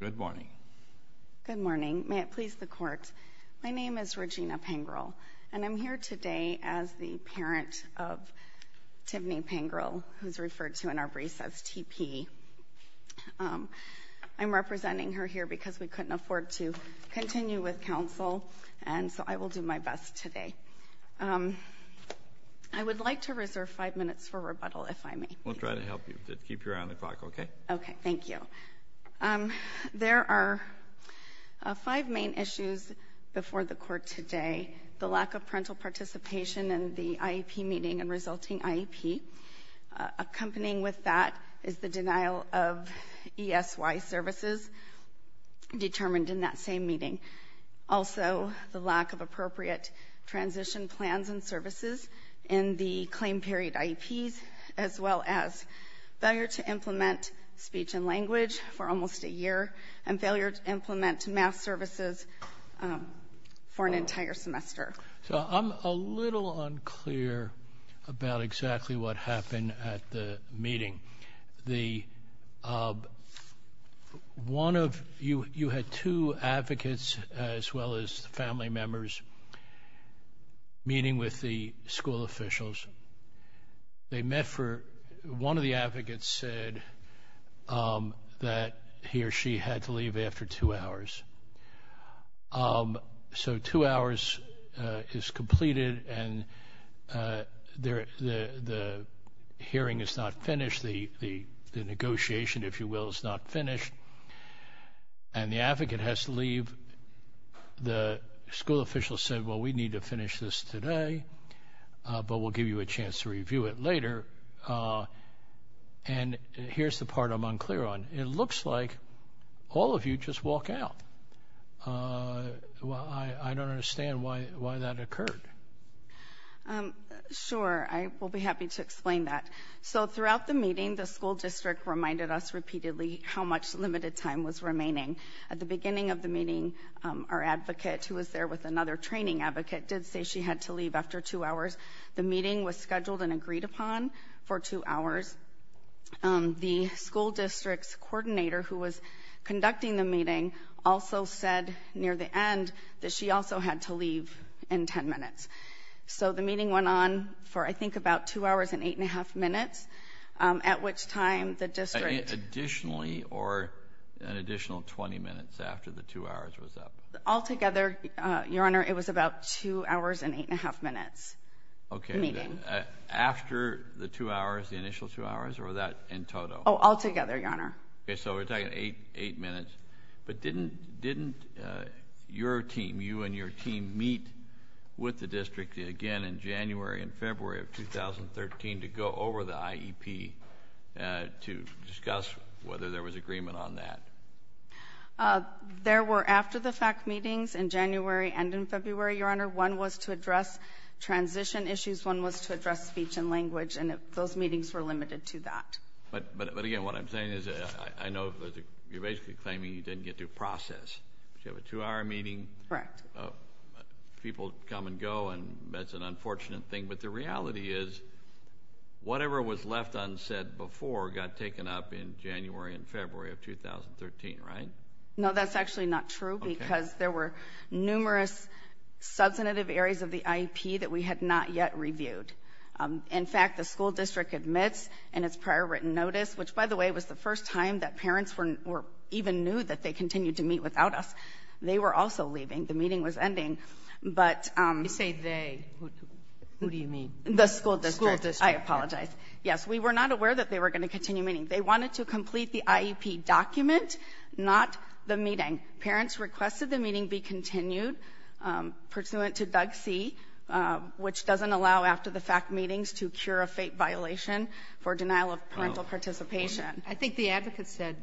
Good morning. Good morning. May it please the Court. My name is Regina Pangerl and I'm here today as the parent of Tiffany Pangerl, who's referred to in our brief as TP. I'm representing her here because we couldn't afford to continue with counsel and so I will do my best today. I would like to reserve five minutes for rebuttal if I may. We'll try to help you. Keep your eye on the clock, okay? Okay, thank you. There are five main issues before the Court today. The lack of parental participation in the IEP meeting and resulting IEP. Accompanying with that is the denial of ESY services determined in that same meeting. Also, the lack of appropriate transition plans and services in the claim period IEPs, as well as failure to implement speech and language for almost a year and failure to implement math services for an entire semester. So I'm a little unclear about exactly what happened at the meeting. The one of you, you had two advocates as well as family members meeting with the school officials. They met for, one of the advocates said that he or she had to leave after two hours. So two hours is completed and the hearing is not finished. The negotiation, if you will, is not finished and the advocate has to leave. The school official said, well, we need to finish this today, but we'll give you a chance to review it later. And here's the part I'm unclear on. It looks like all of you just walk out. Well, I don't understand why that occurred. Sure, I will be happy to explain that. So how much limited time was remaining at the beginning of the meeting? Our advocate who was there with another training advocate did say she had to leave after two hours. The meeting was scheduled and agreed upon for two hours. The school district's coordinator who was conducting the meeting also said near the end that she also had to leave in ten minutes. So the meeting went on for, I think, about two hours and eight and a half minutes, at which time the meeting was adjourned. So the meeting was adjourned for an additional 20 or an additional 20 minutes after the two hours was up? Altogether, Your Honor, it was about two hours and eight and a half minutes. Okay, after the two hours, the initial two hours or that in total? Oh, altogether, Your Honor. Okay, so we're talking eight minutes. But didn't your team, you and your team, meet with the school district and there was agreement on that? There were after-the-fact meetings in January and in February, Your Honor. One was to address transition issues, one was to address speech and language, and those meetings were limited to that. But again, what I'm saying is I know you're basically claiming you didn't get due process. You have a two-hour meeting. Correct. People come and go, and that's an unfortunate thing. But the reality is whatever was left unsaid before got taken up in January and February of 2013, right? No, that's actually not true because there were numerous substantive areas of the IEP that we had not yet reviewed. In fact, the school district admits in its prior written notice, which, by the way, was the first time that parents even knew that they continued to meet without us. They were also leaving. The meeting was ending. You say they. Who do you mean? The school district. I apologize. Yes, we were not aware that they were going to continue meeting. They wanted to complete the IEP document, not the meeting. Parents requested the meeting be continued pursuant to Doug C., which doesn't allow after-the-fact meetings to cure a fate violation for denial of parental participation. I think the advocate said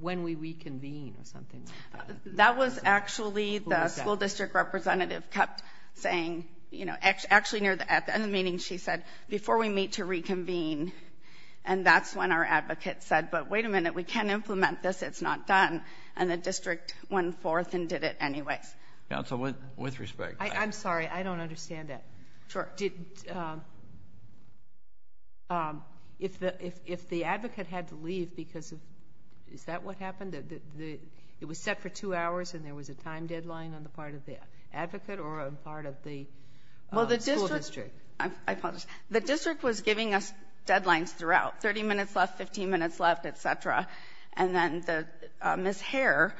when we reconvene or something like that. That was actually the school district representative kept saying, you know, actually at the end of the meeting she said, before we meet to reconvene. And that's when our advocate said, but wait a minute, we can't implement this. It's not done. And the district went forth and did it anyways. Counsel, with respect. I'm sorry, I don't understand that. Sure. Did, if the advocate had to leave because of, is that what happened? It was set for two hours and there was a time deadline on the part of the school district. I apologize. The district was giving us deadlines throughout, 30 minutes left, 15 minutes left, et cetera. And then Ms. Hare,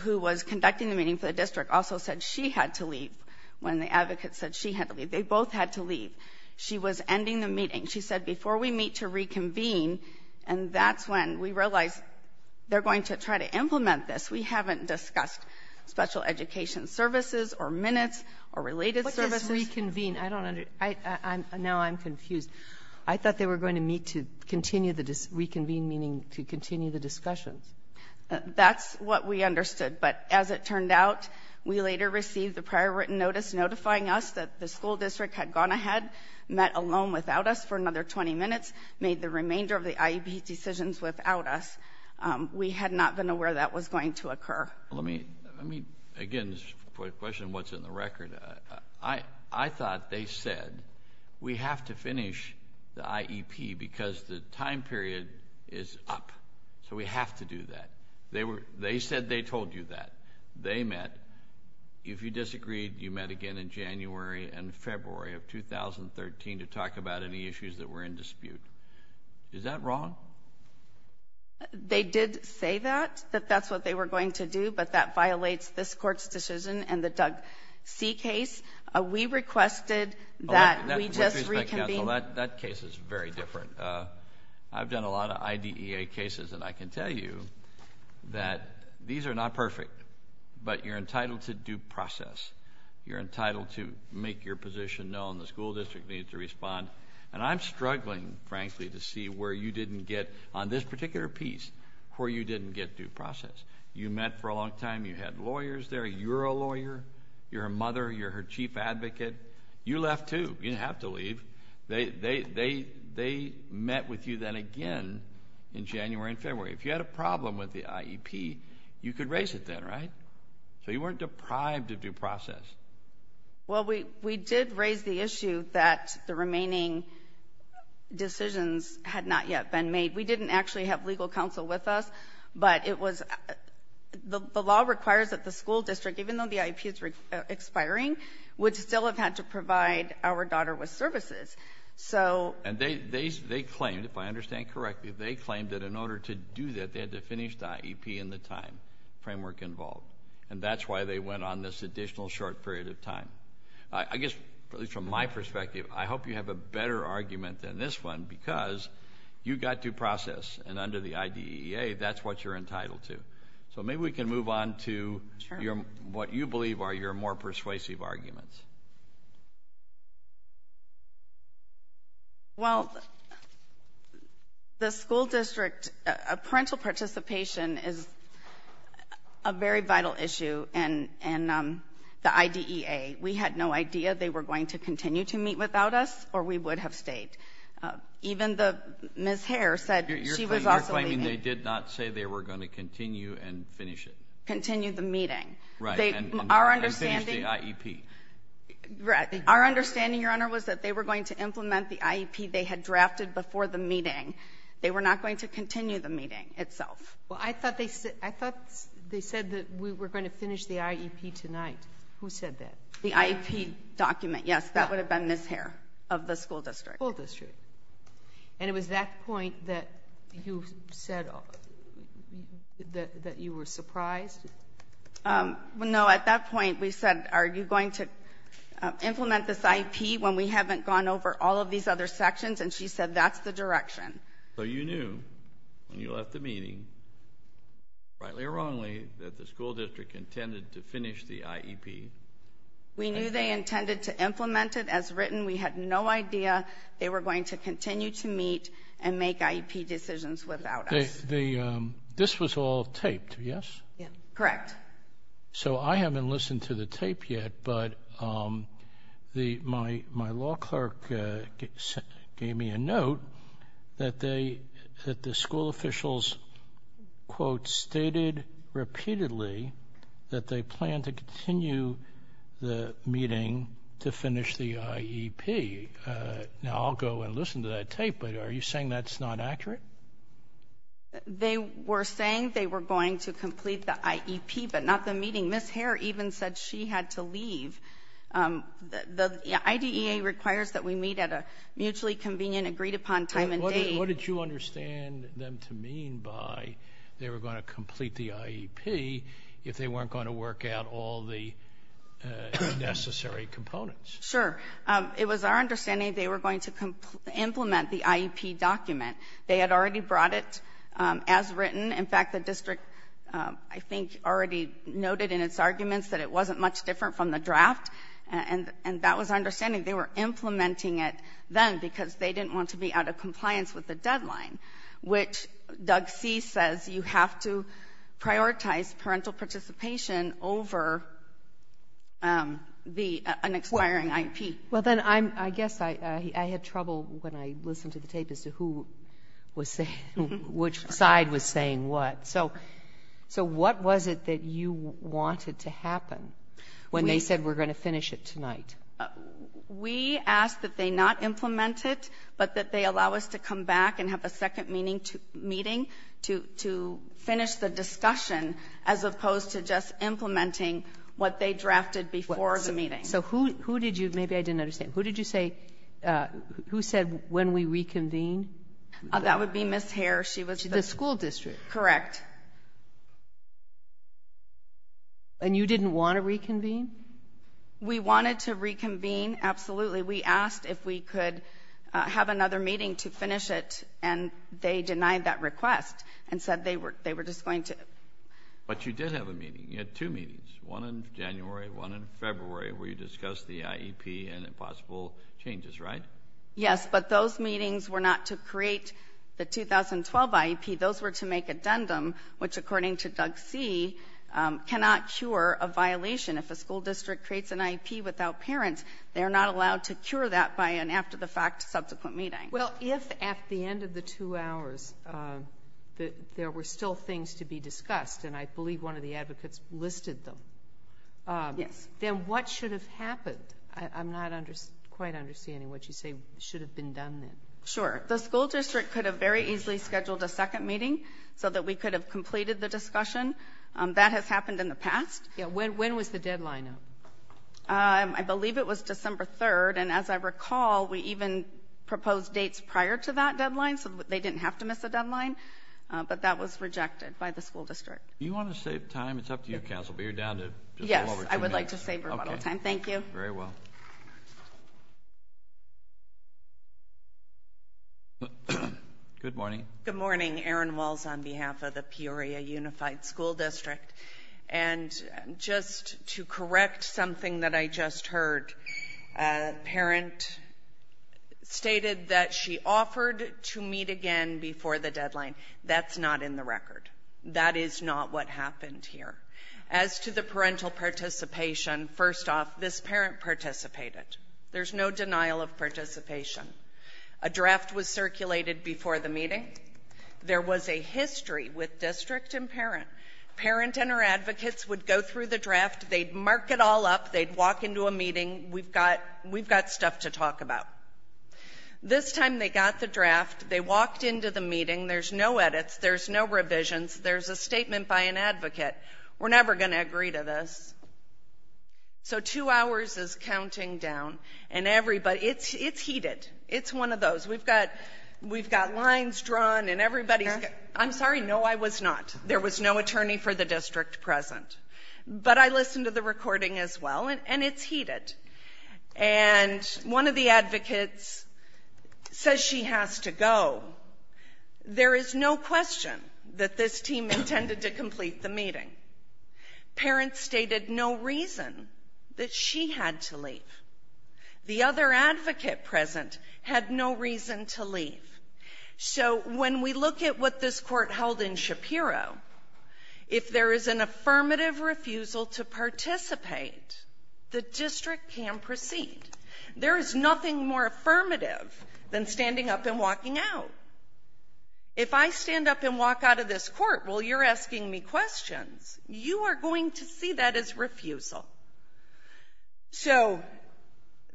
who was conducting the meeting for the district, also said she had to leave when the advocate said she had to leave. They both had to leave. She was ending the meeting. She said, before we meet to reconvene. And that's when we realized they're going to try to implement this. We haven't discussed special education services or minutes or related services. What is reconvene? I don't understand. Now I'm confused. I thought they were going to meet to continue the, reconvene meaning to continue the discussions. That's what we understood. But as it turned out, we later received the prior written notice notifying us that the school district had gone ahead, met alone without us for another 20 minutes, made the remainder of the IEP decisions without us. We had not been aware that that was going to occur. Let me, again, question what's in the record. I thought they said, we have to finish the IEP because the time period is up. So we have to do that. They said they told you that. They met. If you disagreed, you met again in January and February of 2013 to talk about any issues that they had. Is that wrong? They did say that, that that's what they were going to do, but that violates this court's decision and the Doug C. case. We requested that we just reconvene. With respect, counsel, that case is very different. I've done a lot of IDEA cases, and I can tell you that these are not perfect. But you're entitled to due process. You're entitled to make your position known. The particular piece where you didn't get due process. You met for a long time. You had lawyers there. You're a lawyer. You're a mother. You're her chief advocate. You left, too. You didn't have to leave. They met with you then again in January and February. If you had a problem with the IEP, you could raise it then, right? So you weren't deprived of due process. Well, we did raise the issue that the legal counsel with us, but it was the law requires that the school district, even though the IEP is expiring, would still have had to provide our daughter with services. And they claimed, if I understand correctly, they claimed that in order to do that, they had to finish the IEP in the time framework involved. And that's why they went on this additional short period of time. I guess, at least from my perspective, you've got due process. And under the IDEA, that's what you're entitled to. So maybe we can move on to what you believe are your more persuasive arguments. Well, the school district, parental participation is a very vital issue in the IDEA. We had no idea they were going to continue to meet without us or we would have been in the state. Even Ms. Hare said she was also leaving. You're claiming they did not say they were going to continue and finish it? Continue the meeting. Right. And finish the IEP. Our understanding, Your Honor, was that they were going to implement the IEP they had drafted before the meeting. They were not going to continue the meeting itself. Well, I thought they said that we were going to finish the IEP tonight. Who said that? The IEP document, yes. That would have been Ms. Hare of the school district. School district. And it was that point that you said that you were surprised? No, at that point we said, are you going to implement this IEP when we haven't gone over all of these other sections? And she said that's the direction. So you knew when you left the meeting, rightly or wrongly, that the school district was going to continue to meet and make IEP decisions without us. This was all taped, yes? Correct. So I haven't listened to the tape yet, but my law clerk gave me a note that the school officials, quote, stated repeatedly that they planned to continue the meeting to finish the IEP. Now, I'll go and listen to that tape, but are you saying that's not accurate? They were saying they were going to complete the IEP, but not the meeting. Ms. Hare even said she had to leave. The IDEA requires that we meet at a mutually convenient, agreed upon time and date. What did you understand them to mean by they were going to complete the IEP if they weren't going to work out all the necessary components? Sure. It was our understanding they were going to implement the IEP document. They had already brought it as written. In fact, the district, I think, already noted in its arguments that it wasn't much different from the draft, and that was our understanding. They were implementing it then because they didn't want to be out of compliance with the deadline, which Doug C. says you have to over an expiring IEP. Well, then, I guess I had trouble when I listened to the tape as to who was saying, which side was saying what. So what was it that you wanted to happen when they said we're going to finish it tonight? We asked that they not implement it, but that they allow us to come back and to finish the discussion, as opposed to just implementing what they drafted before the meeting. So who did you – maybe I didn't understand. Who did you say – who said when we reconvene? That would be Ms. Hare. She was the school district. Correct. And you didn't want to reconvene? We wanted to reconvene, absolutely. We asked if we could have another meeting to finish it, and they denied that request and said they were just going to – But you did have a meeting. You had two meetings, one in January, one in February, where you discussed the IEP and possible changes, right? Yes, but those meetings were not to create the 2012 IEP. Those were to make addendum, which according to Doug C., cannot cure a violation. If a school district creates an IEP without parents, they are not allowed to cure that by an after-the-fact subsequent meeting. Well, if at the end of the two hours there were still things to be discussed, and I believe one of the advocates listed them. Yes. Then what should have happened? I'm not quite understanding what you say should have been done then. Sure. The school district could have very easily scheduled a second meeting so that we could have completed the discussion. That has happened in the past. When was the deadline? I believe it was December 3rd, and as I recall, we even proposed dates prior to that deadline so they didn't have to miss a deadline, but that was rejected by the school district. Do you want to save time? It's up to you, Counsel, but you're down to just go over two minutes. Yes, I would like to save a little time. Thank you. Very well. Good morning. Good morning. Erin Walls on behalf of the Peoria Unified School District. And just to correct something that I just heard, a parent stated that she offered to meet again before the deadline. That's not in the record. That is not what happened here. As to the parental participation, first off, this parent participated. There's no denial of participation. A draft was circulated before the meeting. There was a history with district and parent. Parent and her advocates would go through the draft. They'd mark it all up. They'd walk into a meeting. We've got stuff to talk about. This time they got the draft. They walked into the meeting. There's no edits. There's no revisions. There's a statement by an advocate. We're never going to agree to this. So two hours is counting down, and everybody — it's heated. It's one of those. We've got lines drawn, and everybody's — I'm sorry. No, I was not. There was no attorney for the district present. But I listened to the recording as well, and it's heated. And one of the advocates says she has to go. There is no question that this team intended to complete the meeting. Parents stated no reason that she had to leave. The other advocate present had no reason to leave. So when we look at what this court held in Shapiro, if there is an affirmative refusal to participate, the district can proceed. There is nothing more affirmative than standing up and walking out. If I stand up and walk out of this court while you're asking me questions, you are going to see that as refusal. So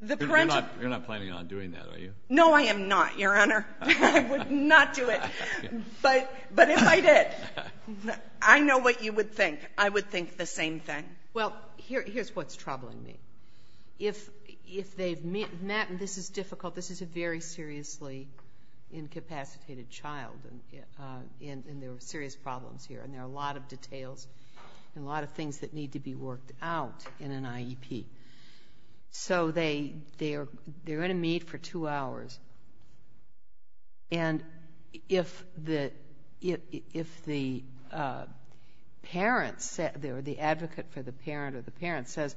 the parental — You're not planning on doing that, are you? No, I am not, Your Honor. I would not do it. But if I did, I know what you would think. I would think the same thing. Well, here's what's troubling me. If they've met — and this is difficult. This is a very seriously incapacitated child, and there are serious problems here, and there are a lot of details and a lot of things that need to be worked out in an IEP. So they are in a meet for two hours. And if the parent or the advocate for the parent or the parent says,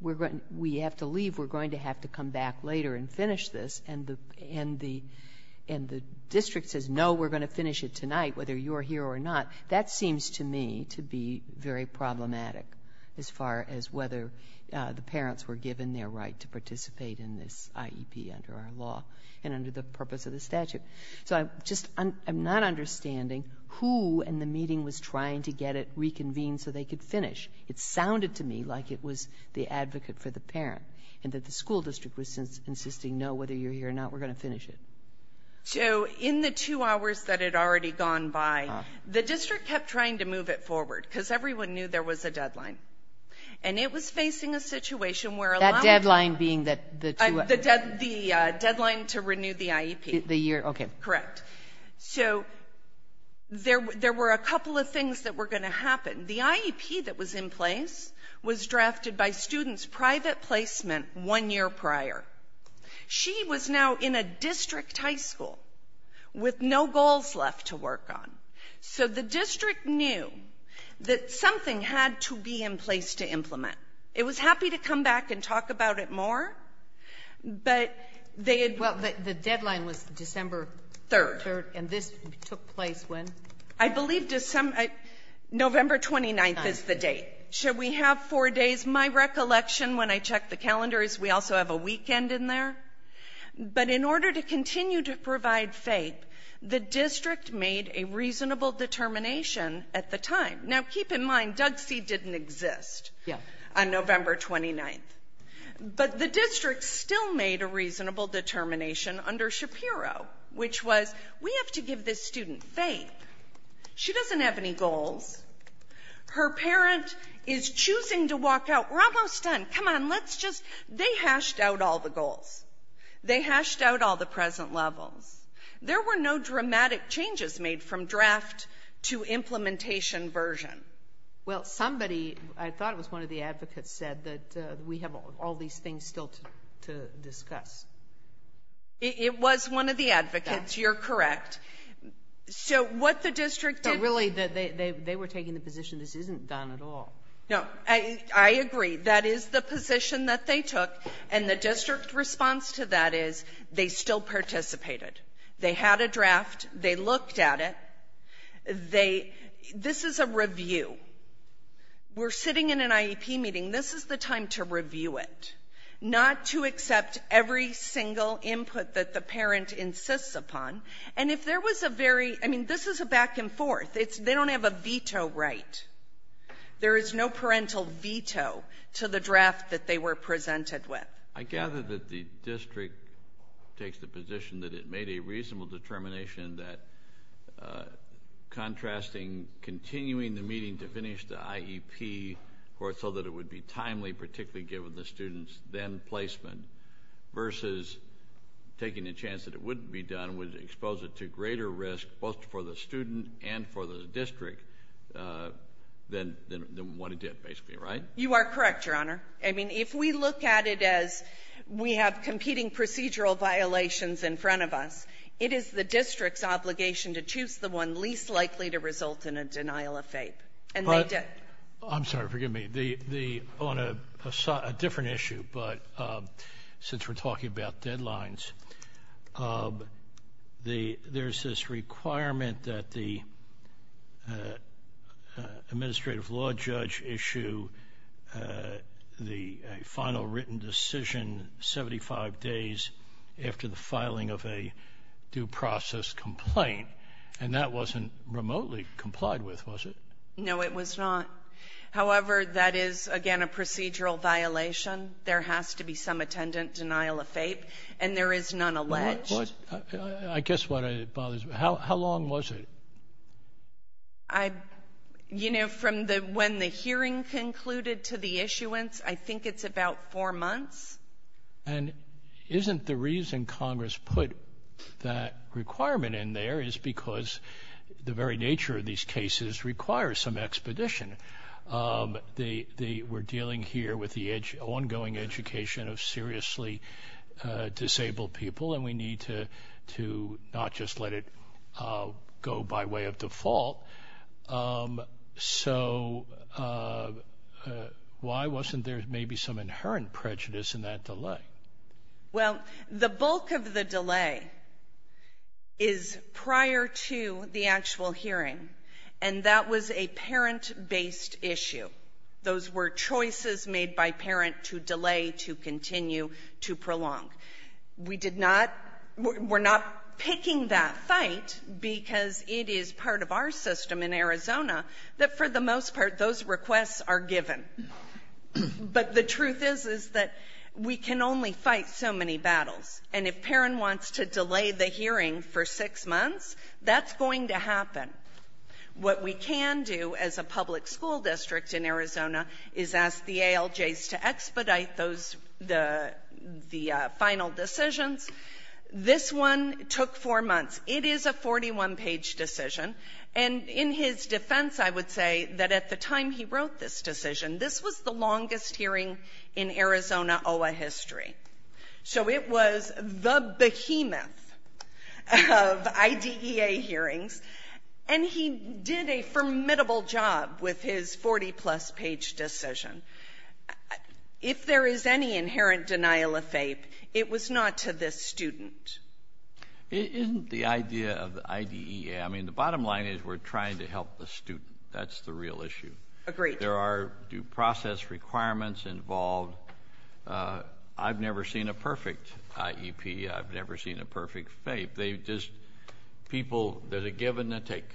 we have to leave, we're going to have to come back later and finish this, and the district says, no, we're going to finish it tonight, whether you're here or not, that seems to me to be very problematic as far as whether the parents were given their right to participate in this IEP under our law and under the purpose of the statute. So I'm just — I'm not understanding who in the meeting was trying to get it reconvened so they could finish. It sounded to me like it was the advocate for the parent and that the school district was insisting, no, whether you're here or not, we're going to finish it. So in the two hours that had already gone by, the district kept trying to move it forward because everyone knew there was a deadline. And it was facing a situation where a lot of — That deadline being the two — The deadline to renew the IEP. The year, okay. Correct. So there were a couple of things that were going to happen. The IEP that was in place was drafted by students' private placement one year prior. She was now in a district high school with no goals left to work on. So the district knew that something had to be in place to implement. It was happy to come back and talk about it more, but they had — Well, the deadline was December — Third. Third. And this took place when? I believe December — November 29th is the date. So we have four days. My recollection, when I check the calendars, we also have a weekend in there. But in order to continue to provide FAPE, the district made a reasonable determination at the time. Now, keep in mind, Doug C. didn't exist on November 29th. But the district still made a reasonable determination under Shapiro, which was, we have to give this student FAPE. She doesn't have any goals. Her parent is choosing to walk out. We're almost done. Come on. Let's just — they hashed out all the goals. They hashed out all the present levels. There were no dramatic changes made from draft to implementation version. Well, somebody — I thought it was one of the advocates said that we have all these things still to discuss. You're correct. So what the district did — But really, they were taking the position this isn't done at all. No. I agree. That is the position that they took. And the district response to that is they still participated. They had a draft. They looked at it. They — this is a review. We're sitting in an IEP meeting. This is the time to review it, not to accept every single input that the parent insists upon. And if there was a very — I mean, this is a back and forth. It's — they don't have a veto right. There is no parental veto to the draft that they were presented with. I gather that the district takes the position that it made a reasonable determination that contrasting continuing the meeting to finish the IEP so that it would be timely, particularly given the student's then placement, versus taking a chance that it wouldn't be done greater risk both for the student and for the district than what it did, basically. Right? You are correct, Your Honor. I mean, if we look at it as we have competing procedural violations in front of us, it is the district's obligation to choose the one least likely to result in a denial of FAPE. And they did. I'm sorry. Forgive me. On a different issue, but since we're talking about deadlines, there's this requirement that the administrative law judge issue the final written decision 75 days after the filing of a due process complaint. And that wasn't remotely complied with, was it? No, it was not. However, that is, again, a procedural violation. There has to be some attendant denial of FAPE. And there is none alleged. I guess what it bothers me. How long was it? I — you know, from the — when the hearing concluded to the issuance, I think it's about four months. And isn't the reason Congress put that requirement in there is because the very nature of these cases requires some expedition. They were dealing here with the ongoing education of seriously disabled people. And we need to not just let it go by way of default. So why wasn't there maybe some inherent prejudice in that delay? Well, the bulk of the delay is prior to the actual hearing, and that was a parent-based issue. Those were choices made by parent to delay, to continue, to prolong. We did not — we're not picking that fight because it is part of our system in Arizona that, for the most part, those requests are given. But the truth is, is that we can only fight so many battles. And if Perrin wants to delay the hearing for six months, that's going to happen. What we can do as a public school district in Arizona is ask the ALJs to expedite those — the final decisions. This one took four months. It is a 41-page decision. And in his defense, I would say that at the time he wrote this decision, this was the longest hearing in Arizona OA history. So it was the behemoth of IDEA hearings, and he did a formidable job with his 40-plus page decision. If there is any inherent denial of faith, it was not to this student. It isn't the idea of IDEA. I mean, the bottom line is we're trying to help the student. That's the real issue. Agreed. There are due process requirements involved. I've never seen a perfect IEP. I've never seen a perfect FAPE. They just — people — there's a give and a take.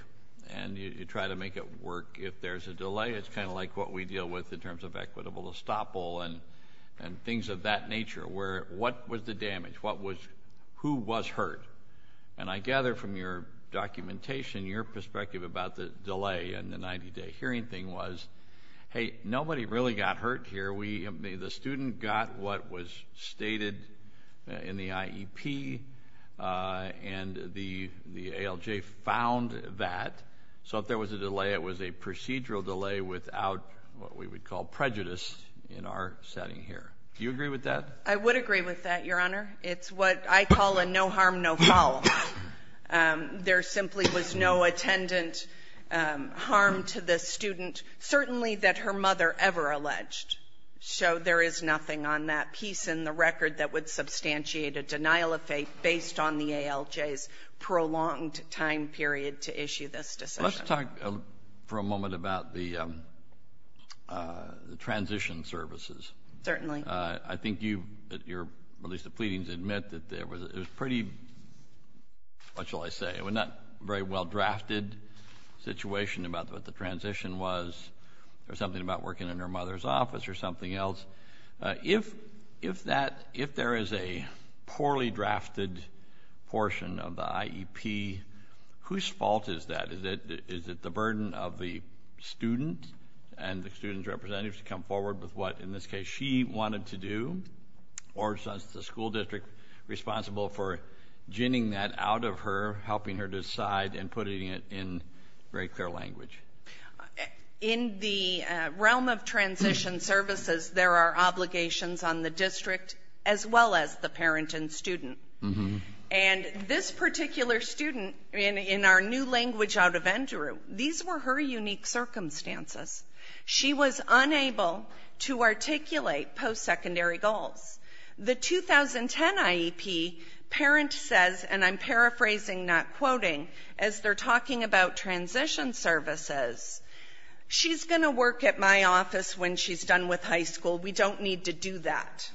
And you try to make it work. If there's a delay, it's kind of like what we deal with in terms of equitable estoppel and things of that nature, where — what was the damage? What was — who was hurt? And I gather from your documentation, your perspective about the delay in the 90-day hearing thing was, hey, nobody really got hurt here. We — the student got what was stated in the IEP, and the ALJ found that. So if there was a delay, it was a procedural delay without what we would call prejudice in our setting here. Do you agree with that? I would agree with that, Your Honor. It's what I call a no harm, no foul. There simply was no attendant harm to the student, certainly that her mother ever alleged. So there is nothing on that piece in the record that would substantiate a denial of FAPE based on the ALJ's prolonged time period to issue this decision. Let's talk for a moment about the transition services. Certainly. I think you — at least the pleadings admit that it was pretty — what shall I say? It was not a very well-drafted situation about what the transition was or something about working in her mother's office or something else. If that — if there is a poorly drafted portion of the IEP, whose fault is that? Is it the burden of the student and the student's representatives to come forward with what in this case she wanted to do, or is the school district responsible for ginning that out of her, helping her decide, and putting it in very clear language? In the realm of transition services, there are obligations on the district as well as the parent and student. And this particular student, in our new language out of NJU, these were her unique circumstances. She was unable to articulate post-secondary goals. The 2010 IEP, parent says, and I'm paraphrasing, not quoting, as they're talking about transition services, she's going to work at my office when she's done with high school. We don't need to do that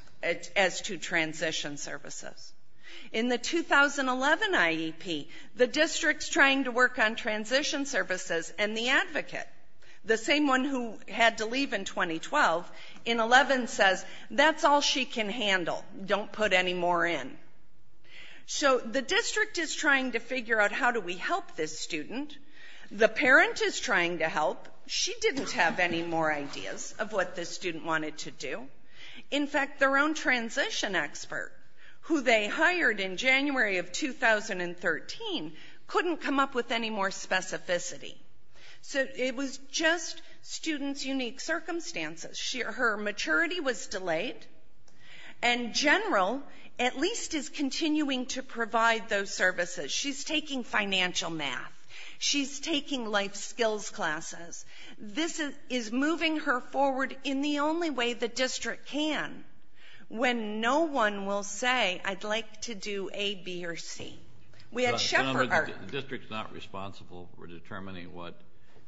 as to transition services. In the 2011 IEP, the district's trying to work on transition services and the advocate. The same one who had to leave in 2012, in 2011 says, that's all she can handle. Don't put any more in. So the district is trying to figure out how do we help this student. The parent is trying to help. She didn't have any more ideas of what this student wanted to do. In fact, their own transition expert, who they hired in January of 2013, couldn't come up with any more specificity. So it was just students' unique circumstances. Her maturity was delayed. And General, at least, is continuing to provide those services. She's taking financial math. She's taking life skills classes. This is moving her forward in the only way the district can, when no one will say, I'd like to do A, B, or C. The district's not responsible for determining what,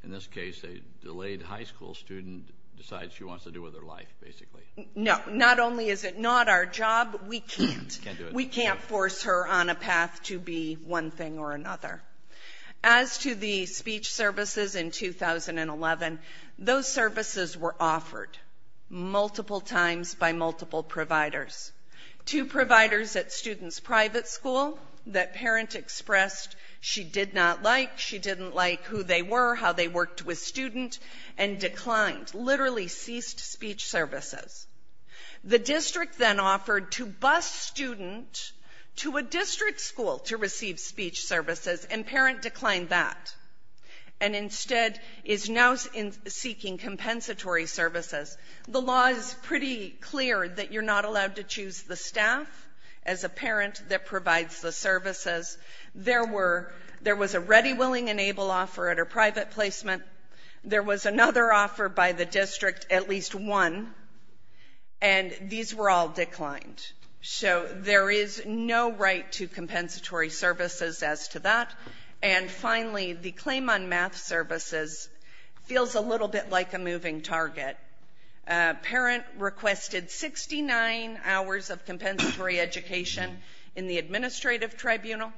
in this case, a delayed high school student decides she wants to do with her life, basically. No. Not only is it not our job, we can't. We can't force her on a path to be one thing or another. As to the speech services in 2011, those services were offered multiple times by multiple providers. Two providers at students' private school that parent expressed she did not like, she didn't like who they were, how they worked with student, and declined, literally ceased speech services. The district then offered to bus student to a district school to receive speech services, and parent declined that, and instead is now seeking compensatory services. The law is pretty clear that you're not allowed to choose the staff as a parent that provides the services. There were — there was a ready, willing, and able offer at her private placement. There was another offer by the district, at least one, and these were all declined. So there is no right to compensatory services as to that. And finally, the claim on math services feels a little bit like a moving target. Parent requested 69 hours of compensatory education in the administrative tribunal.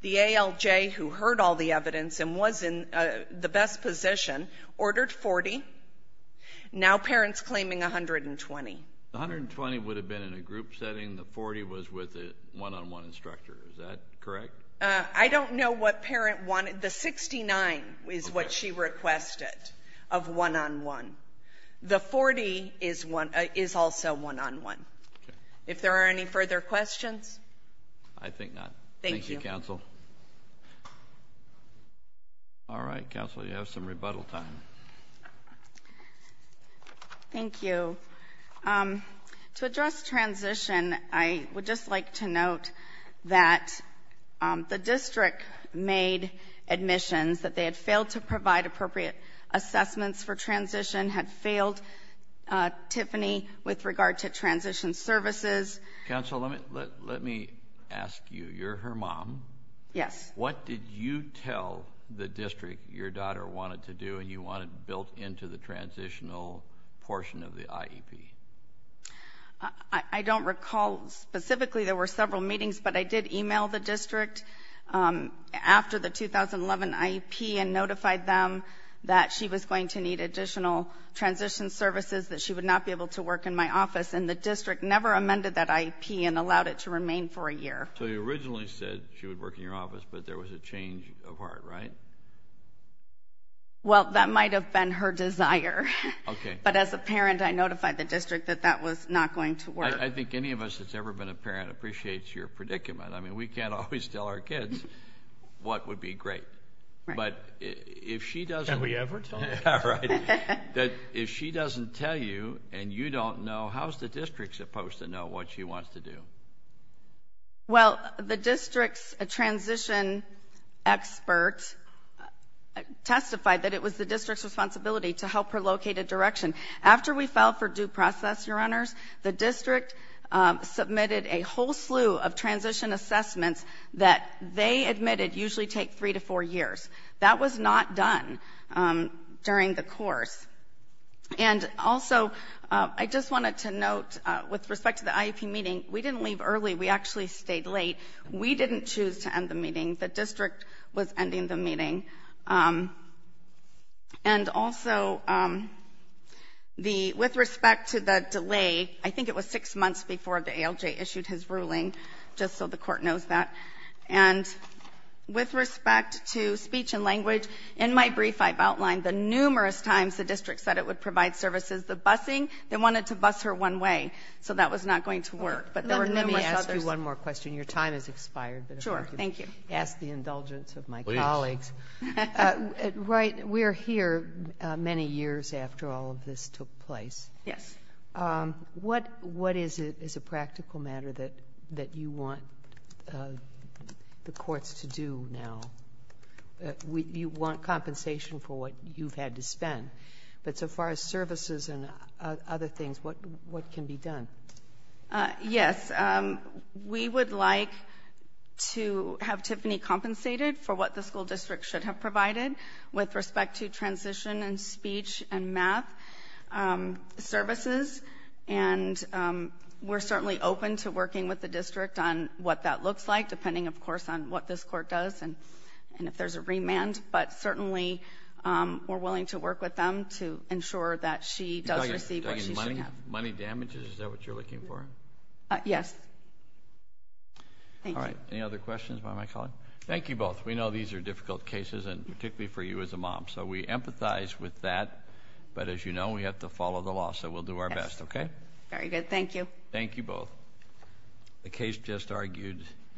The ALJ, who heard all the evidence and was in the best position, ordered 40. Now parent's claiming 120. The 120 would have been in a group setting. The 40 was with a one-on-one instructor. Is that correct? I don't know what parent wanted. The 69 is what she requested of one-on-one. The 40 is one — is also one-on-one. Okay. If there are any further questions? I think not. Thank you. Thank you, counsel. All right, counsel, you have some rebuttal time. Thank you. To address transition, I would just like to note that the district made admissions, that they had failed to provide appropriate assessments for transition, had failed Tiffany with regard to transition services. Counsel, let me ask you. You're her mom. Yes. What did you tell the district your daughter wanted to do and you wanted built into the transitional portion of the IEP? I don't recall. Specifically, there were several meetings, but I did email the district after the 2011 IEP and notified them that she was going to need additional transition services, that she would not be able to work in my office. And the district never amended that IEP and allowed it to remain for a year. So you originally said she would work in your office, but there was a change of heart, right? Well, that might have been her desire. Okay. But as a parent, I notified the district that that was not going to work. I think any of us that's ever been a parent appreciates your predicament. I mean, we can't always tell our kids what would be great. Right. But if she doesn't – Have we ever told her? Right. If she doesn't tell you and you don't know, how is the district supposed to know what she wants to do? Well, the district's transition expert testified that it was the district's responsibility to help her locate a direction. After we filed for due process, Your Honors, the district submitted a whole slew of transition assessments that they admitted usually take three to four years. That was not done during the course. And also, I just wanted to note, with respect to the IEP meeting, we didn't leave early. We actually stayed late. We didn't choose to end the meeting. The district was ending the meeting. And also, with respect to the delay, I think it was six months before the ALJ issued his ruling, just so the court knows that. And with respect to speech and language, in my brief, I've outlined the numerous times the district said it would provide services. The busing, they wanted to bus her one way. So that was not going to work. But there were numerous others. Let me ask you one more question. Your time has expired. Sure. Thank you. But if I could ask the indulgence of my colleagues. Please. Right. We're here many years after all of this took place. Yes. What is a practical matter that you want the courts to do now? You want compensation for what you've had to spend. But so far as services and other things, what can be done? Yes. We would like to have Tiffany compensated for what the school district should have provided with respect to transition and speech and math services. And we're certainly open to working with the district on what that looks like, depending, of course, on what this court does and if there's a remand. But certainly we're willing to work with them to ensure that she does receive what she should have. You're talking money? Money damages? Is that what you're looking for? Yes. Thank you. All right. Any other questions by my colleague? Thank you both. We know these are difficult cases, and particularly for you as a mom. So we empathize with that. But as you know, we have to follow the law. So we'll do our best, okay? Very good. Thank you. Thank you both. The case just argued.